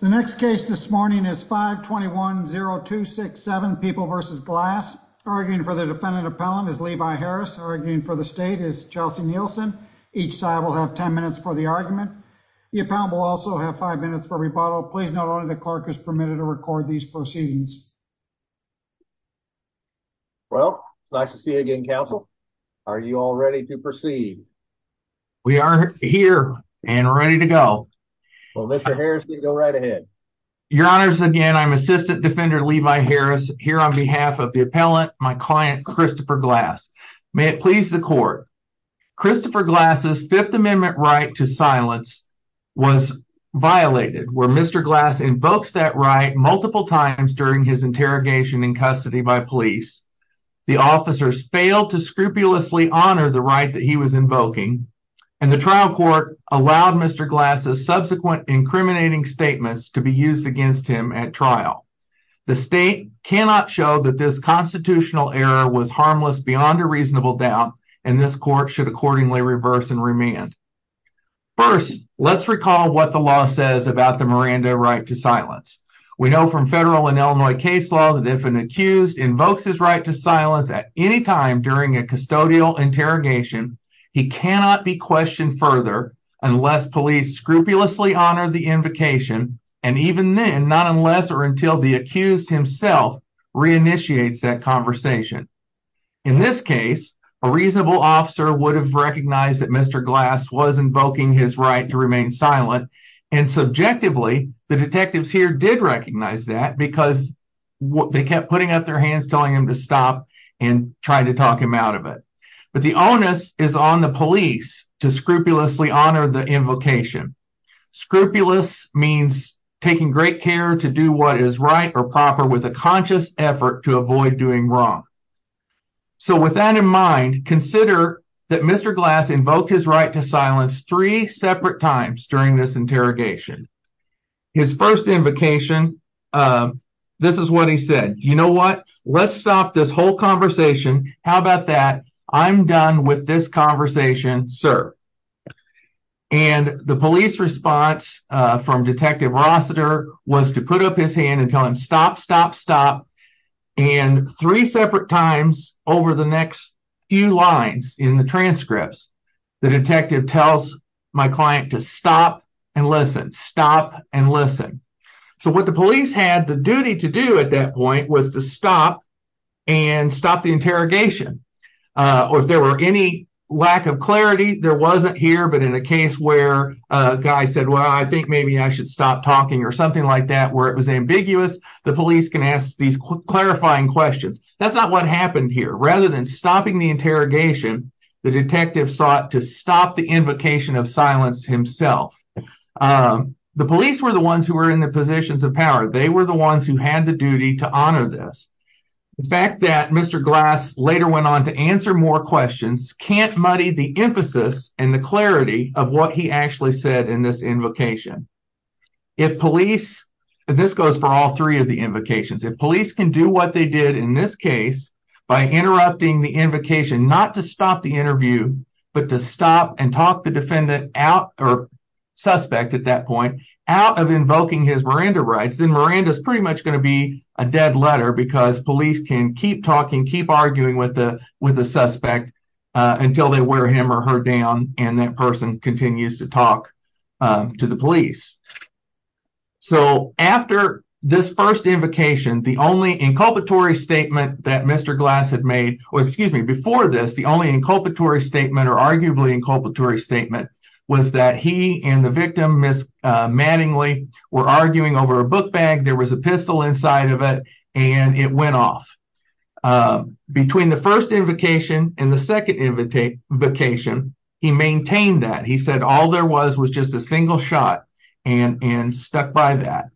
The next case this morning is 5210267 People v. Glass. Arguing for the defendant appellant is Levi Harris. Arguing for the state is Chelsea Nielsen. Each side will have 10 minutes for the argument. The appellant will also have five minutes for rebuttal. Please note only the clerk is permitted to record these proceedings. Well, nice to see you again, your honors. Again, I'm assistant defender Levi Harris here on behalf of the appellant, my client Christopher Glass. May it please the court. Christopher Glass's Fifth Amendment right to silence was violated where Mr. Glass invokes that right multiple times during his interrogation in custody by police. The officers failed to scrupulously honor the right that he was invoking and the trial court allowed Mr. Glass's subsequent incriminating statements to be used against him at trial. The state cannot show that this constitutional error was harmless beyond a reasonable doubt and this court should accordingly reverse and remand. First, let's recall what the law says about the Miranda right to silence. We know from federal and Illinois case law that if an accused invokes his right to silence at any time during a custodial interrogation, he cannot be questioned further unless police scrupulously honor the invocation and even then, not unless or until the accused himself reinitiates that conversation. In this case, a reasonable officer would have recognized that Mr. Glass was invoking his right to remain silent and subjectively, the detectives here did recognize that because they kept putting up their on the police to scrupulously honor the invocation. Scrupulous means taking great care to do what is right or proper with a conscious effort to avoid doing wrong. So, with that in mind, consider that Mr. Glass invoked his right to silence three separate times during this interrogation. His first invocation, this is what he said, you know what, let's stop this whole conversation, how about that, I'm done with this conversation, sir. And the police response from Detective Rossiter was to put up his hand and tell him stop, stop, stop and three separate times over the next few lines in the transcripts, the detective tells my client to stop and listen, stop and listen. So, what the police had the duty to do at that point was to stop the interrogation or if there were any lack of clarity, there wasn't here, but in a case where a guy said, well, I think maybe I should stop talking or something like that, where it was ambiguous, the police can ask these clarifying questions. That's not what happened here, rather than stopping the interrogation, the detective sought to stop the invocation of silence himself. The police were the ones who were in the positions of power, they were the later went on to answer more questions, can't muddy the emphasis and the clarity of what he actually said in this invocation. If police, this goes for all three of the invocations, if police can do what they did in this case by interrupting the invocation, not to stop the interview, but to stop and talk the defendant out or suspect at that point, out of invoking his Miranda rights, then Miranda's pretty much going to be a dead letter because police can keep arguing with the suspect until they wear him or her down and that person continues to talk to the police. So, after this first invocation, the only inculpatory statement that Mr. Glass had made, or excuse me, before this, the only inculpatory statement or arguably inculpatory statement was that he and the victim, Ms. Mattingly, were arguing over a book bag, there was a pistol inside of it, and it went off. Between the first invocation and the second invocation, he maintained that, he said all there was was just a single shot and stuck by that.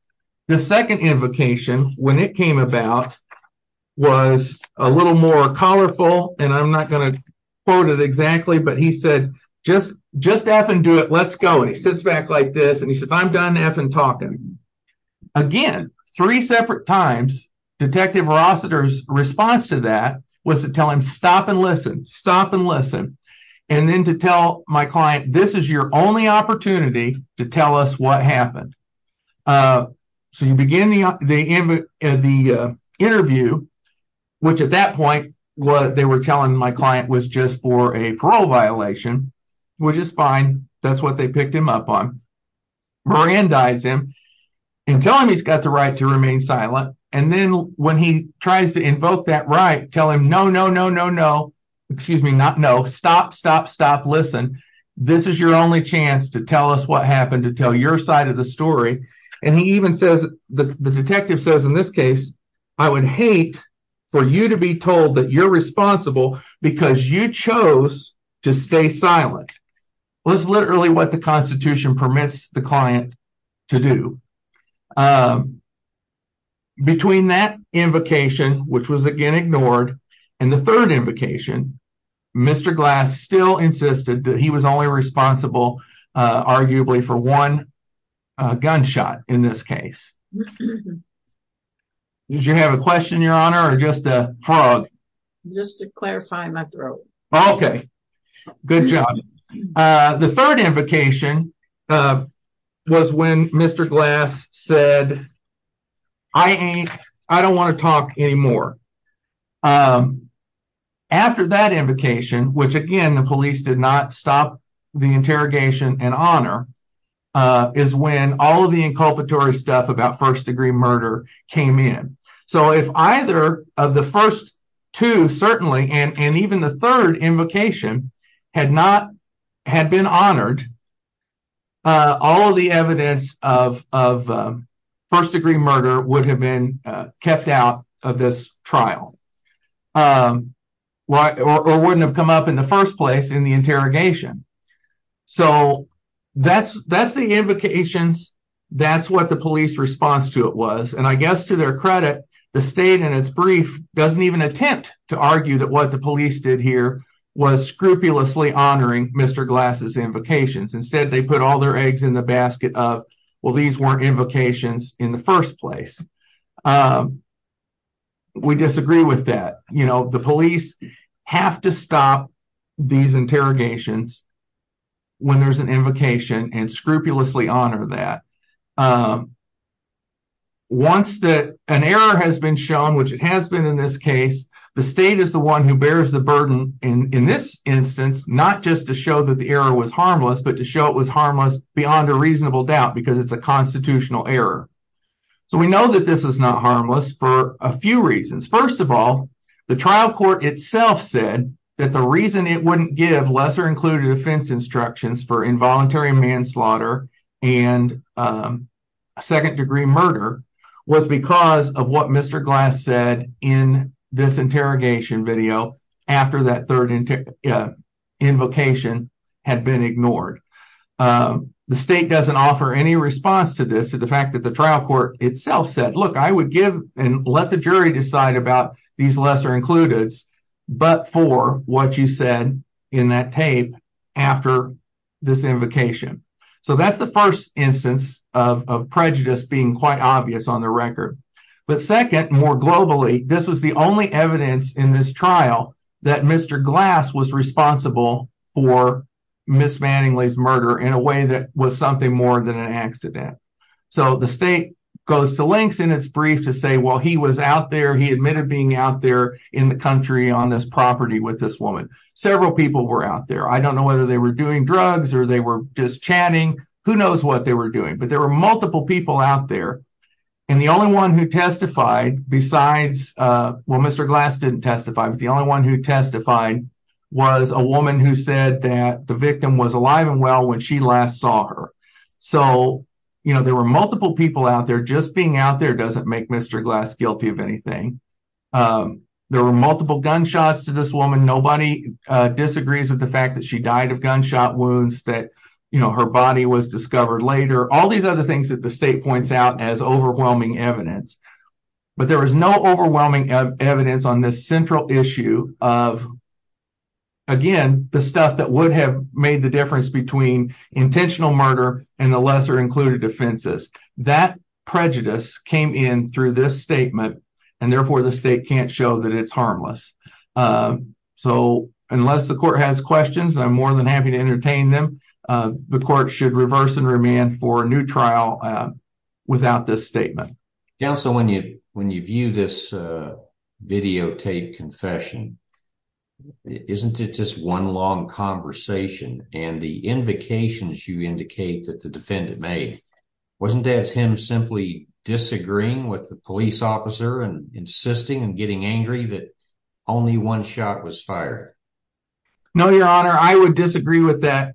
The second invocation, when it came about, was a little more colorful, and I'm not going to quote it exactly, but he said, just effing do it, let's go, and he sits back like this, I'm done effing talking. Again, three separate times, Detective Rossiter's response to that was to tell him, stop and listen, stop and listen, and then to tell my client, this is your only opportunity to tell us what happened. So, you begin the interview, which at that point, what they were telling my client was just for a parole violation, which is fine, that's what they picked him up on. Mirandize him, and tell him he's got the right to remain silent, and then when he tries to invoke that right, tell him, no, no, no, no, no, excuse me, not no, stop, stop, stop, listen, this is your only chance to tell us what happened, to tell your side of the story, and he even says, the detective says in this case, I would hate for you to be told that you're silent. That's literally what the Constitution permits the client to do. Between that invocation, which was again ignored, and the third invocation, Mr. Glass still insisted that he was only responsible, arguably, for one gunshot in this case. Did you have a question, Your Honor, or just a frog? Just to clarify my throat. Okay, good job. The third invocation was when Mr. Glass said, I don't want to talk anymore. After that invocation, which again, the police did not stop the interrogation in honor, is when all of the inculpatory stuff about first degree murder came in. So, if either of the first two, certainly, and even the third invocation had been honored, all of the evidence of first degree murder would have been kept out of this trial, or wouldn't have come up in the first place in the interrogation. So, that's the invocations, that's what the police response to it was. I guess, to their credit, the state in its brief doesn't even attempt to argue that what the police did here was scrupulously honoring Mr. Glass' invocations. Instead, they put all their eggs in the basket of, well, these weren't invocations in the first place. We disagree with that. The police have to stop these interrogations when there's an invocation and scrupulously honor that. Once that an error has been shown, which it has been in this case, the state is the one who bears the burden in this instance, not just to show that the error was harmless, but to show it was harmless beyond a reasonable doubt because it's a constitutional error. So, we know that this is not harmless for a few reasons. First of all, the trial court itself said that the reason it wouldn't give lesser-included offense instructions for involuntary manslaughter and second-degree murder was because of what Mr. Glass said in this interrogation video after that third invocation had been ignored. The state doesn't offer any response to this, to the fact that the trial court itself said, look, I would give and let the jury decide about these lesser-includeds, but for what you said in that tape after this invocation. So, that's the first instance of prejudice being quite obvious on the record. But second, more globally, this was the only evidence in this trial that Mr. Glass was responsible for Ms. Manningly's murder in a way that was something more than an accident. So, the state goes to lengths in its brief to say, he was out there, he admitted being out there in the country on this property with this woman. Several people were out there. I don't know whether they were doing drugs or they were just chatting, who knows what they were doing, but there were multiple people out there. And the only one who testified besides, well, Mr. Glass didn't testify, but the only one who testified was a woman who said that the victim was alive and well when she last saw her. So, there were multiple people out there. Just being out there doesn't make Mr. Glass guilty of anything. There were multiple gunshots to this woman. Nobody disagrees with the fact that she died of gunshot wounds, that her body was discovered later, all these other things that the state points out as overwhelming evidence. But there was no overwhelming evidence on this central issue of, again, the stuff that would have made the difference between intentional murder and the lesser included defenses. That prejudice came in through this statement, and therefore the state can't show that it's harmless. So, unless the court has questions, I'm more than happy to entertain them. The court should reverse and remand for a new trial without this statement. Counsel, when you view this videotape confession, isn't it just one long conversation? And the invocations you indicate that the defendant made, wasn't that him simply disagreeing with the police officer and insisting and getting angry that only one shot was fired? No, your honor, I would disagree with that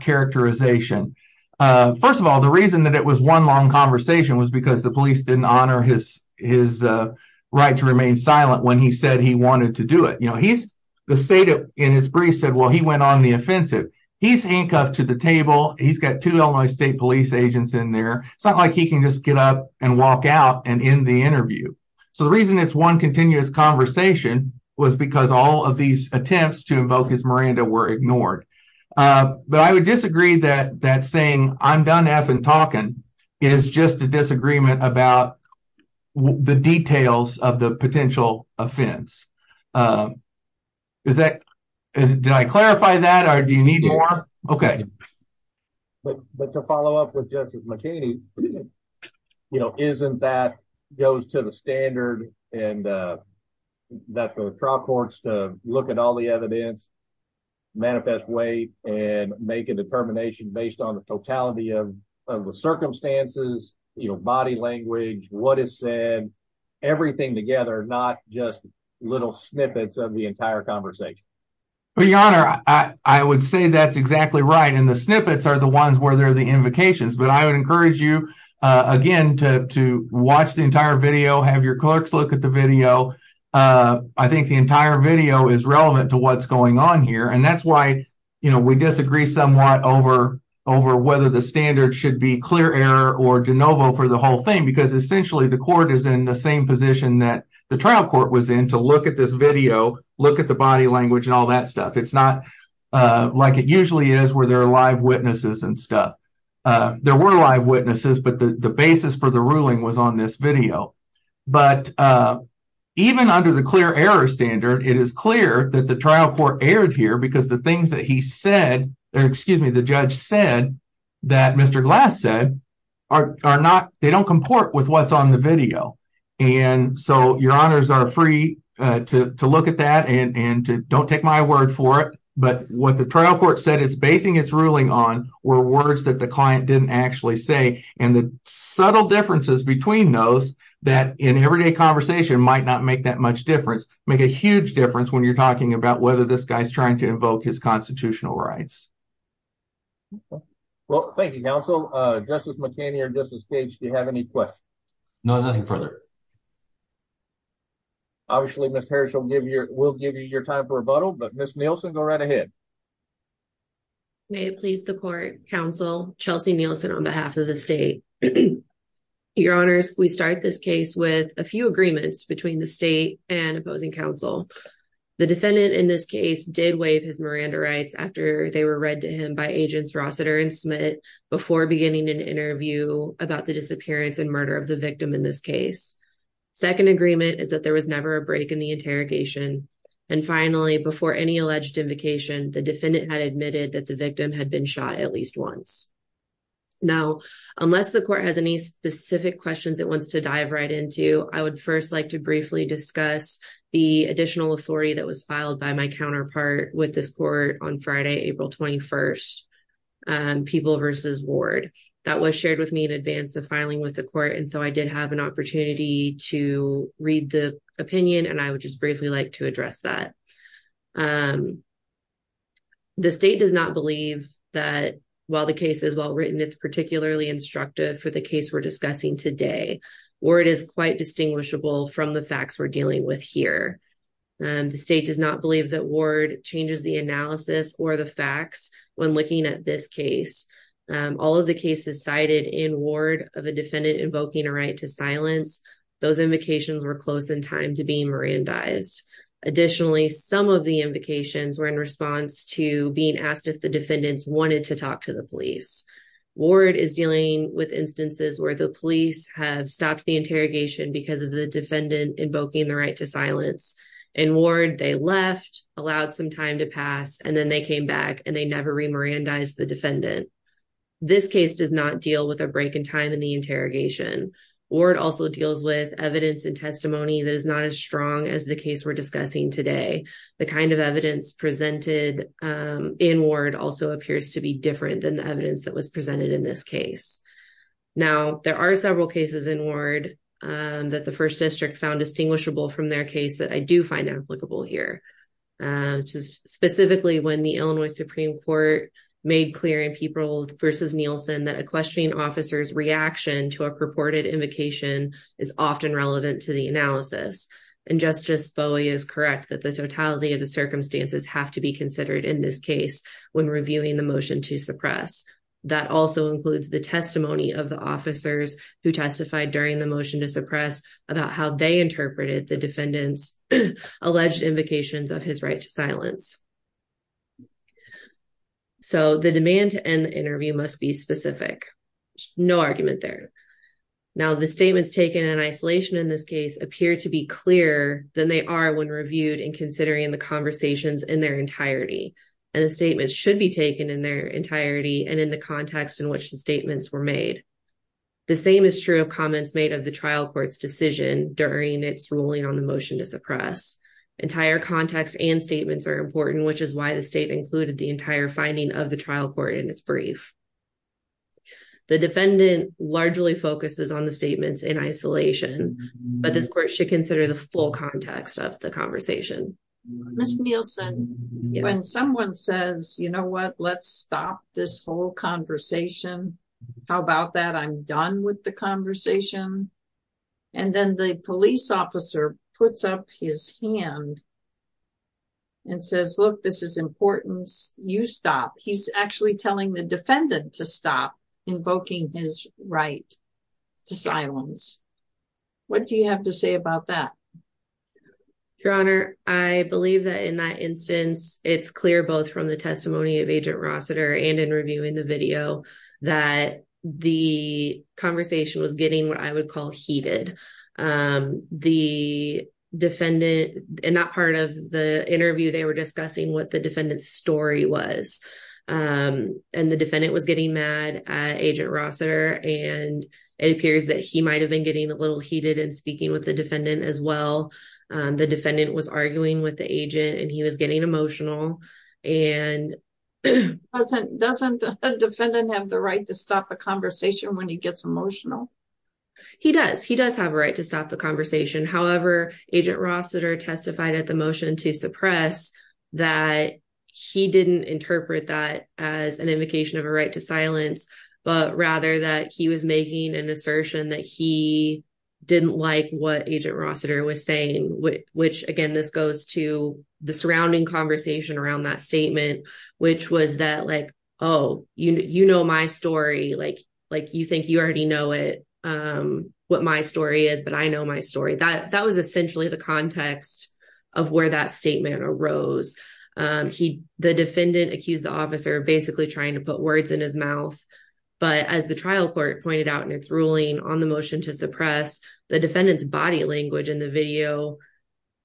characterization. First of all, the reason that it was one long conversation was because the police didn't honor his right to remain silent when he said he wanted to do it. The state in its brief said, well, he went on the offensive. He's handcuffed to the table. He's got two Illinois state police agents in there. It's not like he can just get up and walk out and end the interview. So, the reason it's one continuous conversation was because all of these attempts to invoke his Miranda were ignored. But I would disagree that saying, I'm done effing talking is just a the details of the potential offense. Did I clarify that or do you need more? Okay. But to follow up with Justice McHaney, isn't that goes to the standard and that the trial courts to look at all the evidence, manifest weight and make a determination based on the circumstances, body language, what is said, everything together, not just little snippets of the entire conversation. Your honor, I would say that's exactly right. And the snippets are the ones where there are the invocations. But I would encourage you again to watch the entire video, have your clerks look at the video. I think the entire video is relevant to what's going on or de novo for the whole thing, because essentially the court is in the same position that the trial court was in to look at this video, look at the body language and all that stuff. It's not like it usually is where there are live witnesses and stuff. There were live witnesses, but the basis for the ruling was on this video. But even under the clear error standard, it is clear that the trial court aired here because the things that he said, or excuse me, the judge said that Mr. Glass said are not, they don't comport with what's on the video. And so your honors are free to look at that and to don't take my word for it. But what the trial court said is basing its ruling on were words that the client didn't actually say. And the subtle differences between those that in everyday conversation might not make that much difference, make a huge difference when you're talking about whether this guy's trying to invoke his constitutional rights. Well, thank you, counsel. Justice McKinney or Justice Cage, do you have any questions? No, nothing further. Obviously, Ms. Harris will give you your time for rebuttal, but Ms. Nielsen, go right ahead. May it please the court, counsel Chelsea Nielsen on behalf of the state. Your honors, we start this case with a few agreements between the state and opposing counsel. The defendant in this case did waive his Miranda rights after they were read to him by agents Rossiter and Smith before beginning an interview about the disappearance and murder of the victim in this case. Second agreement is that there was never a break in the interrogation. And finally, before any alleged invocation, the defendant had admitted that the victim had been shot at least once. Now, unless the court has any specific questions it wants to dive right into, I would first like to briefly discuss the additional authority that was filed by my people versus ward that was shared with me in advance of filing with the court. And so I did have an opportunity to read the opinion and I would just briefly like to address that. The state does not believe that while the case is well written, it's particularly instructive for the case we're discussing today. Word is quite distinguishable from the facts we're dealing with here. The state does not believe that ward changes the analysis or the facts when looking at this case. All of the cases cited in ward of a defendant invoking a right to silence, those invocations were close in time to being Mirandized. Additionally, some of the invocations were in response to being asked if the defendants wanted to talk to the police. Ward is dealing with instances where the police have stopped the interrogation because of the defendant invoking the right to silence. In ward, they left, allowed some time to pass, and then they came back and they never re-Mirandized the defendant. This case does not deal with a break in time in the interrogation. Ward also deals with evidence and testimony that is not as strong as the case we're discussing today. The kind of evidence presented in ward also appears to be different than the evidence that was presented in this case. Now, there are several cases in ward that the first district found distinguishable from their case that I do find applicable here. Specifically, when the Illinois Supreme Court made clear in Pieperold v. Nielsen that a questioning officer's reaction to a purported invocation is often relevant to the analysis. And Justice Bowie is correct that the totality of the circumstances have to be considered in this case when reviewing the motion to suppress. That also includes the testimony of the officers who testified during the motion to suppress about how they interpreted the defendant's alleged invocations of his right to silence. So, the demand to end the interview must be specific. No argument there. Now, the statements taken in isolation in this case appear to be clearer than they are when reviewed and considering the conversations in their entirety. And the statements should be taken in their entirety and the context in which the statements were made. The same is true of comments made of the trial court's decision during its ruling on the motion to suppress. Entire context and statements are important, which is why the state included the entire finding of the trial court in its brief. The defendant largely focuses on the statements in isolation, but this court should consider the full context of the conversation. Ms. Nielsen, when someone says, you know what, let's stop this whole conversation. How about that? I'm done with the conversation. And then the police officer puts up his hand and says, look, this is important. You stop. He's actually telling the defendant to stop invoking his right to silence. What do you have to say about that? Your Honor, I believe that in that instance, it's clear both from the testimony of Agent Rossiter and in reviewing the video that the conversation was getting what I would call heated. The defendant, in that part of the interview, they were discussing what the defendant's story was. And the defendant was getting mad at Agent Rossiter. And it appears that he might have been getting a little heated and speaking with the defendant as well. The defendant was arguing with the agent and he was getting emotional. Doesn't a defendant have the right to stop a conversation when he gets emotional? He does. He does have a right to stop the conversation. However, Agent Rossiter testified at the motion to suppress that he didn't interpret that as an invocation of a right to silence, but rather that he was making an assertion that he didn't like what Agent Rossiter was saying, which again, this goes to the surrounding conversation around that statement, which was that like, oh, you know my story, like you think you already know it, what my story is, but I know my story. That was essentially the context of where that statement arose. The defendant accused the officer of basically trying to put words in his mouth. But as the trial court pointed out in its ruling on the motion to suppress, the defendant's body language in the video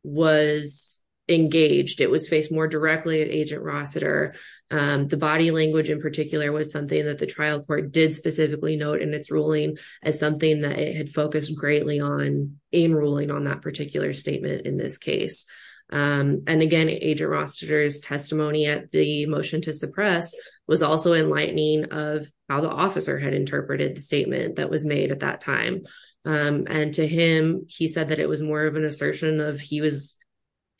was engaged. It was faced more directly at Agent Rossiter. The body language in particular was something that the trial court did specifically note in its ruling as something that it had focused greatly on in ruling on that particular statement in this case. And again, Agent Rossiter's the motion to suppress was also enlightening of how the officer had interpreted the statement that was made at that time. And to him, he said that it was more of an assertion of he was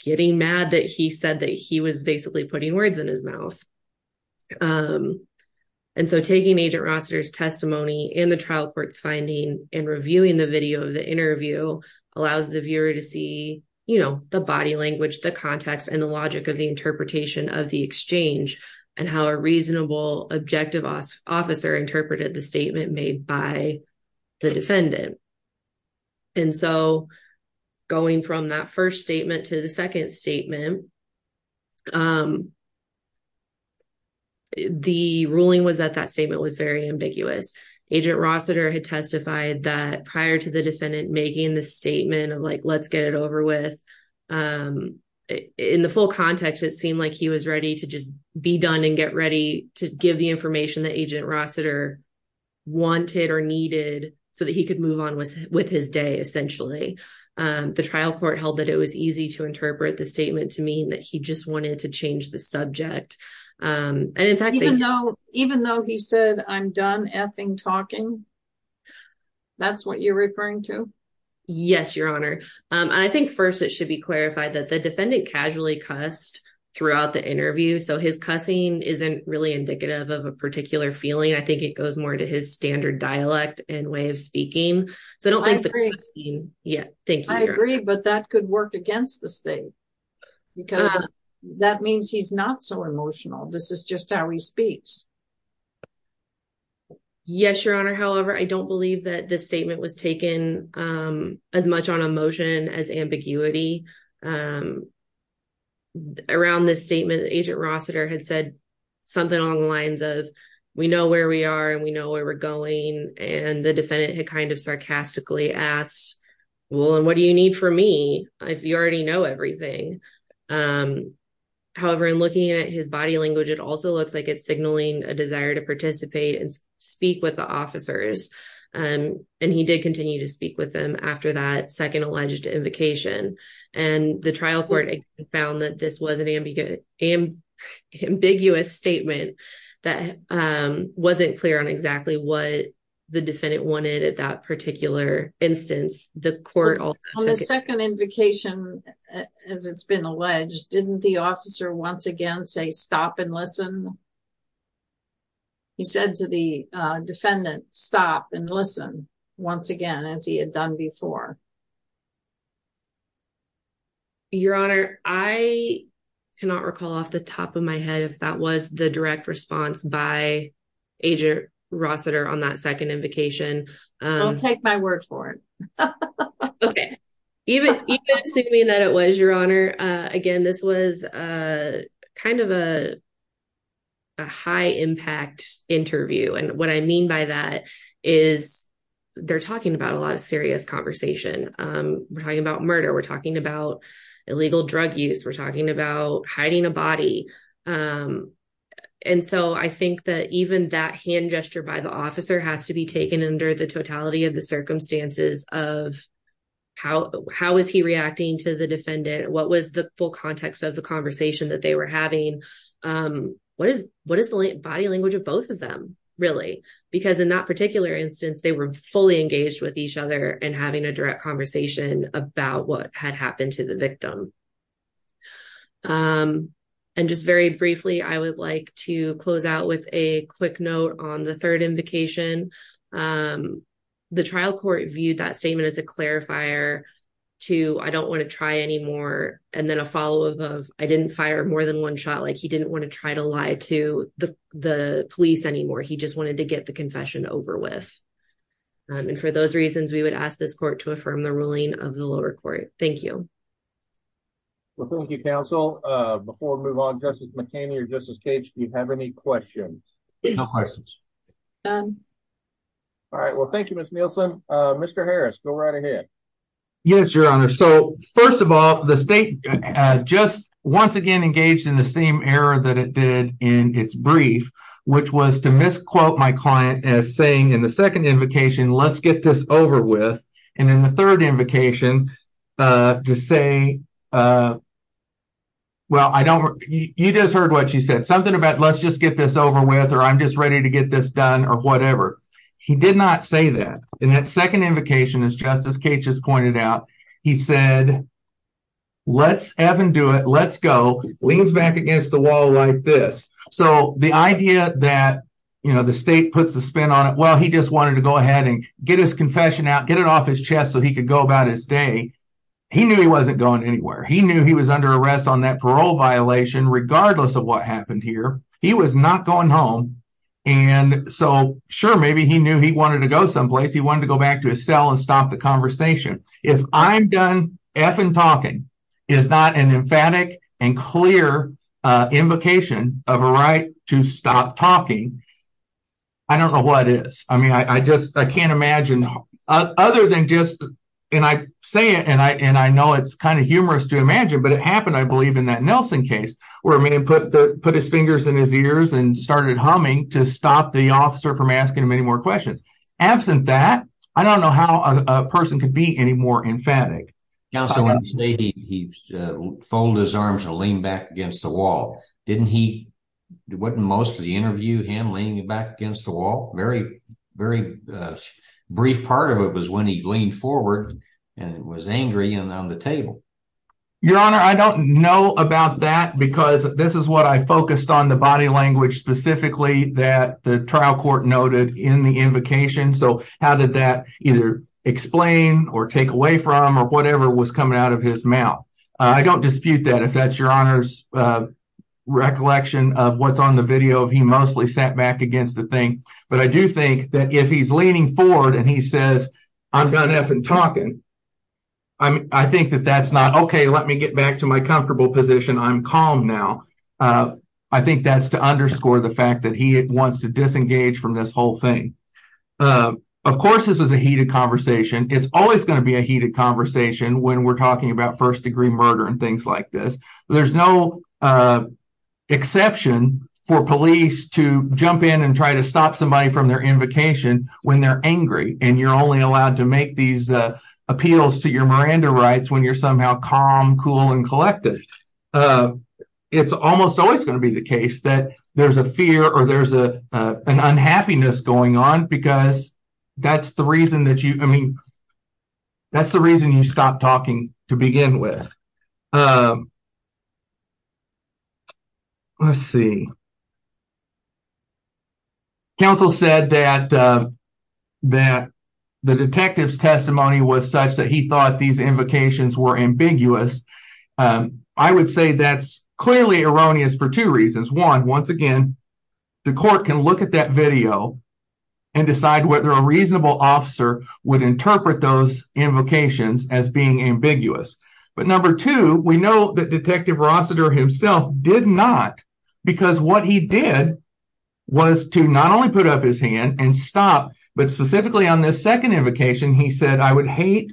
getting mad that he said that he was basically putting words in his mouth. And so taking Agent Rossiter's testimony in the trial court's finding and reviewing the video of the interview allows the viewer to see, you know, the body language, the context and the logic of the interpretation of the exchange and how a reasonable objective officer interpreted the statement made by the defendant. And so going from that first statement to the second statement, the ruling was that that statement was very ambiguous. Agent Rossiter had testified that prior to the defendant making the statement of like, in the full context, it seemed like he was ready to just be done and get ready to give the information that Agent Rossiter wanted or needed so that he could move on with his day essentially. The trial court held that it was easy to interpret the statement to mean that he just wanted to change the subject. And in fact, even though he said I'm done effing talking, that's what you're defendant casually cussed throughout the interview. So his cussing isn't really indicative of a particular feeling. I think it goes more to his standard dialect and way of speaking. So I don't think that. Yeah, thank you. I agree. But that could work against the state because that means he's not so emotional. This is just how he speaks. Yes, Your Honor. However, I don't believe that this statement was taken as much on emotion as ambiguity. Around this statement, Agent Rossiter had said something along the lines of, we know where we are and we know where we're going. And the defendant had kind of sarcastically asked, well, and what do you need from me if you already know everything? However, in looking at his body language, it also looks like it's signaling a desire to participate and speak with the officers. And he did continue to speak with them after that second alleged invocation. And the trial court found that this was an ambiguous statement that wasn't clear on exactly what the defendant wanted at that particular instance. On the second invocation, as it's been alleged, didn't the officer once again say stop and listen? He said to the defendant, stop and listen once again, as he had done before. Your Honor, I cannot recall off the top of my head if that was the direct response by Agent Rossiter on that second invocation. I'll take my word for it. Okay. Even assuming that it was, Your Honor, again, this was kind of a high-impact interview. And what I mean by that is they're talking about a lot of serious conversation. We're talking about murder. We're talking about illegal drug use. We're talking about hiding a body. And so I think that even that hand gesture by the officer has to be taken under the totality of the circumstances of how is he reacting to the defendant? What was the full context of the conversation that they were having? What is the body language of both of them, really? Because in that particular instance, they were fully engaged with each other and having a direct conversation about what had happened to the victim. And just very briefly, I would like to close out with a quick note on the third invocation. The trial court viewed that statement as a clarifier to, I don't want to try anymore, and then a follow-up of, I didn't fire more than one shot. Like, he didn't want to try to lie to the police anymore. He just wanted to get the confession over with. And for those reasons, we would ask this court to affirm the ruling of the lower court. Thank you. Well, thank you, counsel. Before we move on, Justice McHaney or Justice Cage, do you have any questions? No questions. All right. Well, thank you, Ms. Nielsen. Mr. Harris, go right ahead. Yes, Your Honor. So, first of all, the state just once again engaged in the same error that it did in its brief, which was to misquote my client as saying in the second invocation, let's get this over with. And in the third invocation, to say, well, I don't, you just something about, let's just get this over with, or I'm just ready to get this done, or whatever. He did not say that. In that second invocation, as Justice Cage has pointed out, he said, let's have him do it. Let's go. Leans back against the wall like this. So, the idea that, you know, the state puts a spin on it, well, he just wanted to go ahead and get his confession out, get it off his chest so he could go about his day. He knew he wasn't going anywhere. He knew he was under arrest on that parole violation, regardless of what happened here. He was not going home. And so, sure, maybe he knew he wanted to go someplace. He wanted to go back to his cell and stop the conversation. If I'm done effing talking is not an emphatic and clear invocation of a right to stop talking, I don't know what is. I mean, I just, I can't imagine other than just, and I say it, and I know it's kind of humorous to imagine, but it happened, I believe, in that Nelson case, where a man put his fingers in his ears and started humming to stop the officer from asking him any more questions. Absent that, I don't know how a person could be any more emphatic. Now, so when you say he folded his arms to lean back against the wall, didn't he, wasn't most of the interview him leaning back against the wall? Very, very brief part of it was when he leaned forward and was angry and on the table. Your honor, I don't know about that because this is what I focused on the body language specifically that the trial court noted in the invocation. So how did that either explain or take away from or whatever was coming out of his mouth? I don't dispute that, if that's your honor's recollection of what's on the video of mostly sat back against the thing. But I do think that if he's leaning forward and he says, I've got nothing talking, I think that that's not, okay, let me get back to my comfortable position, I'm calm now. I think that's to underscore the fact that he wants to disengage from this whole thing. Of course, this is a heated conversation. It's always going to be a heated conversation when we're talking about first degree murder and things like this. There's no exception for police to jump in and try to stop somebody from their invocation when they're angry and you're only allowed to make these appeals to your Miranda rights when you're somehow calm, cool, and collected. It's almost always going to be the case that there's a fear or there's an unhappiness going on because that's the reason that you, I mean, the counsel said that the detective's testimony was such that he thought these invocations were ambiguous. I would say that's clearly erroneous for two reasons. One, once again, the court can look at that video and decide whether a reasonable officer would interpret those invocations as being what he did was to not only put up his hand and stop, but specifically on this second invocation, he said, I would hate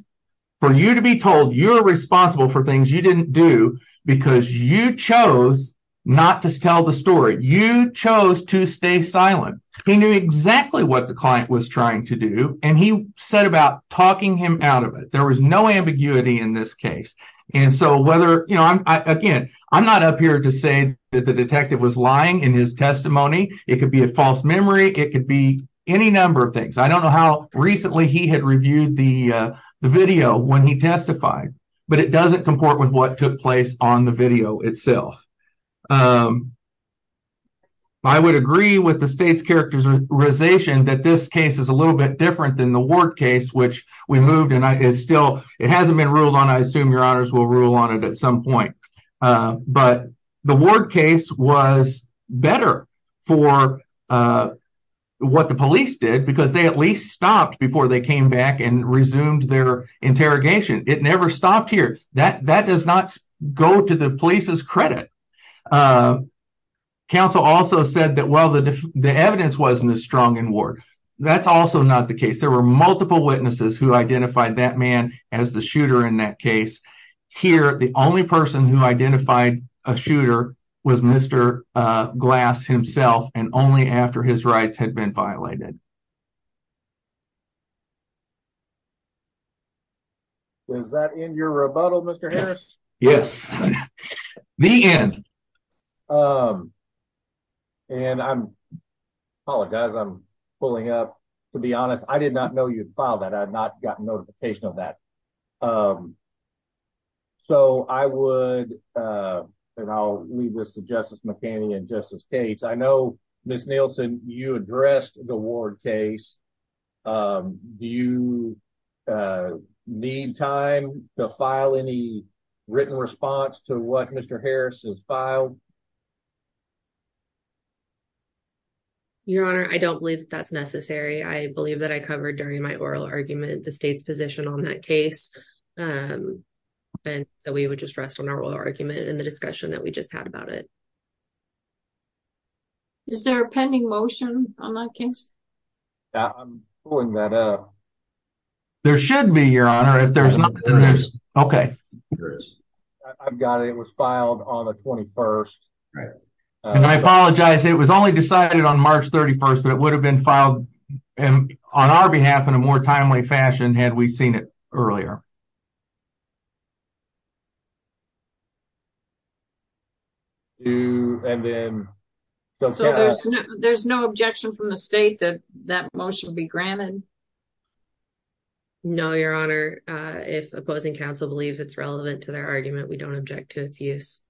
for you to be told you're responsible for things you didn't do because you chose not to tell the story. You chose to stay silent. He knew exactly what the client was trying to do and he set about talking him out of it. There was no ambiguity in this case. And so whether, again, I'm not up here to say that the detective was lying in his testimony. It could be a false memory. It could be any number of things. I don't know how recently he had reviewed the video when he testified, but it doesn't comport with what took place on the video itself. I would agree with the state's characterization that this case is a little bit different than the Ward case, which we moved and it still hasn't been ruled on. I assume your honors will rule on it at some point. But the Ward case was better for what the police did because they at least stopped before they came back and resumed their interrogation. It never stopped here. That does not go to the police's credit. Counsel also said that, well, the evidence wasn't as strong in Ward. That's also not the case. There were multiple witnesses who identified that man as the shooter in that case. Here, the only person who identified a shooter was Mr. Glass himself and only after his rights had been violated. Does that end your rebuttal, Mr. Harris? Yes. The end. I apologize. I'm pulling up. To be honest, I did not know you'd filed that. I had not gotten notification of that. I'll leave this to Justice McCanny and Justice Cates. I know, Ms. Nielsen, you addressed the Ward case. Do you need time to file any written response to what Mr. Harris has filed? Your honor, I don't believe that's necessary. I believe that I covered during my oral argument the state's position on that case and that we would just rest on our oral argument and the Is there a pending motion on that case? I'm pulling that up. There should be, your honor. If there's not, there is. I've got it. It was filed on the 21st. I apologize. It was only decided on March 31st, but it would have been filed on our behalf in a more timely fashion had we seen it earlier. Do and then there's no objection from the state that that motion will be granted? No, your honor. If opposing counsel believes it's relevant to their argument, we don't object to its use.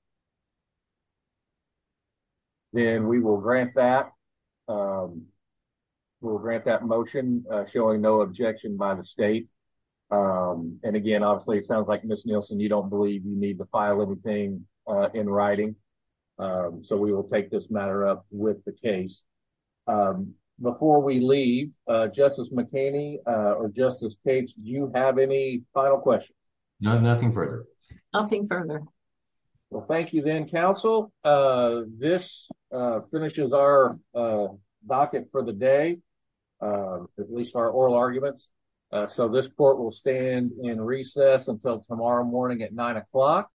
Then we will grant that. We'll grant that motion showing no objection by the state. Um, and again, obviously it sounds like Miss Nielsen, you don't believe you need to file everything in writing. Um, so we will take this matter up with the case. Um, before we leave, uh, Justice McKinney, uh, or Justice Capes, do you have any final questions? No, nothing further. Nothing further. Well, thank you then counsel. Uh, this, uh, finishes our, uh, docket for the day. Um, at least our oral arguments. Uh, so this court will stand in recess until tomorrow morning at nine o'clock.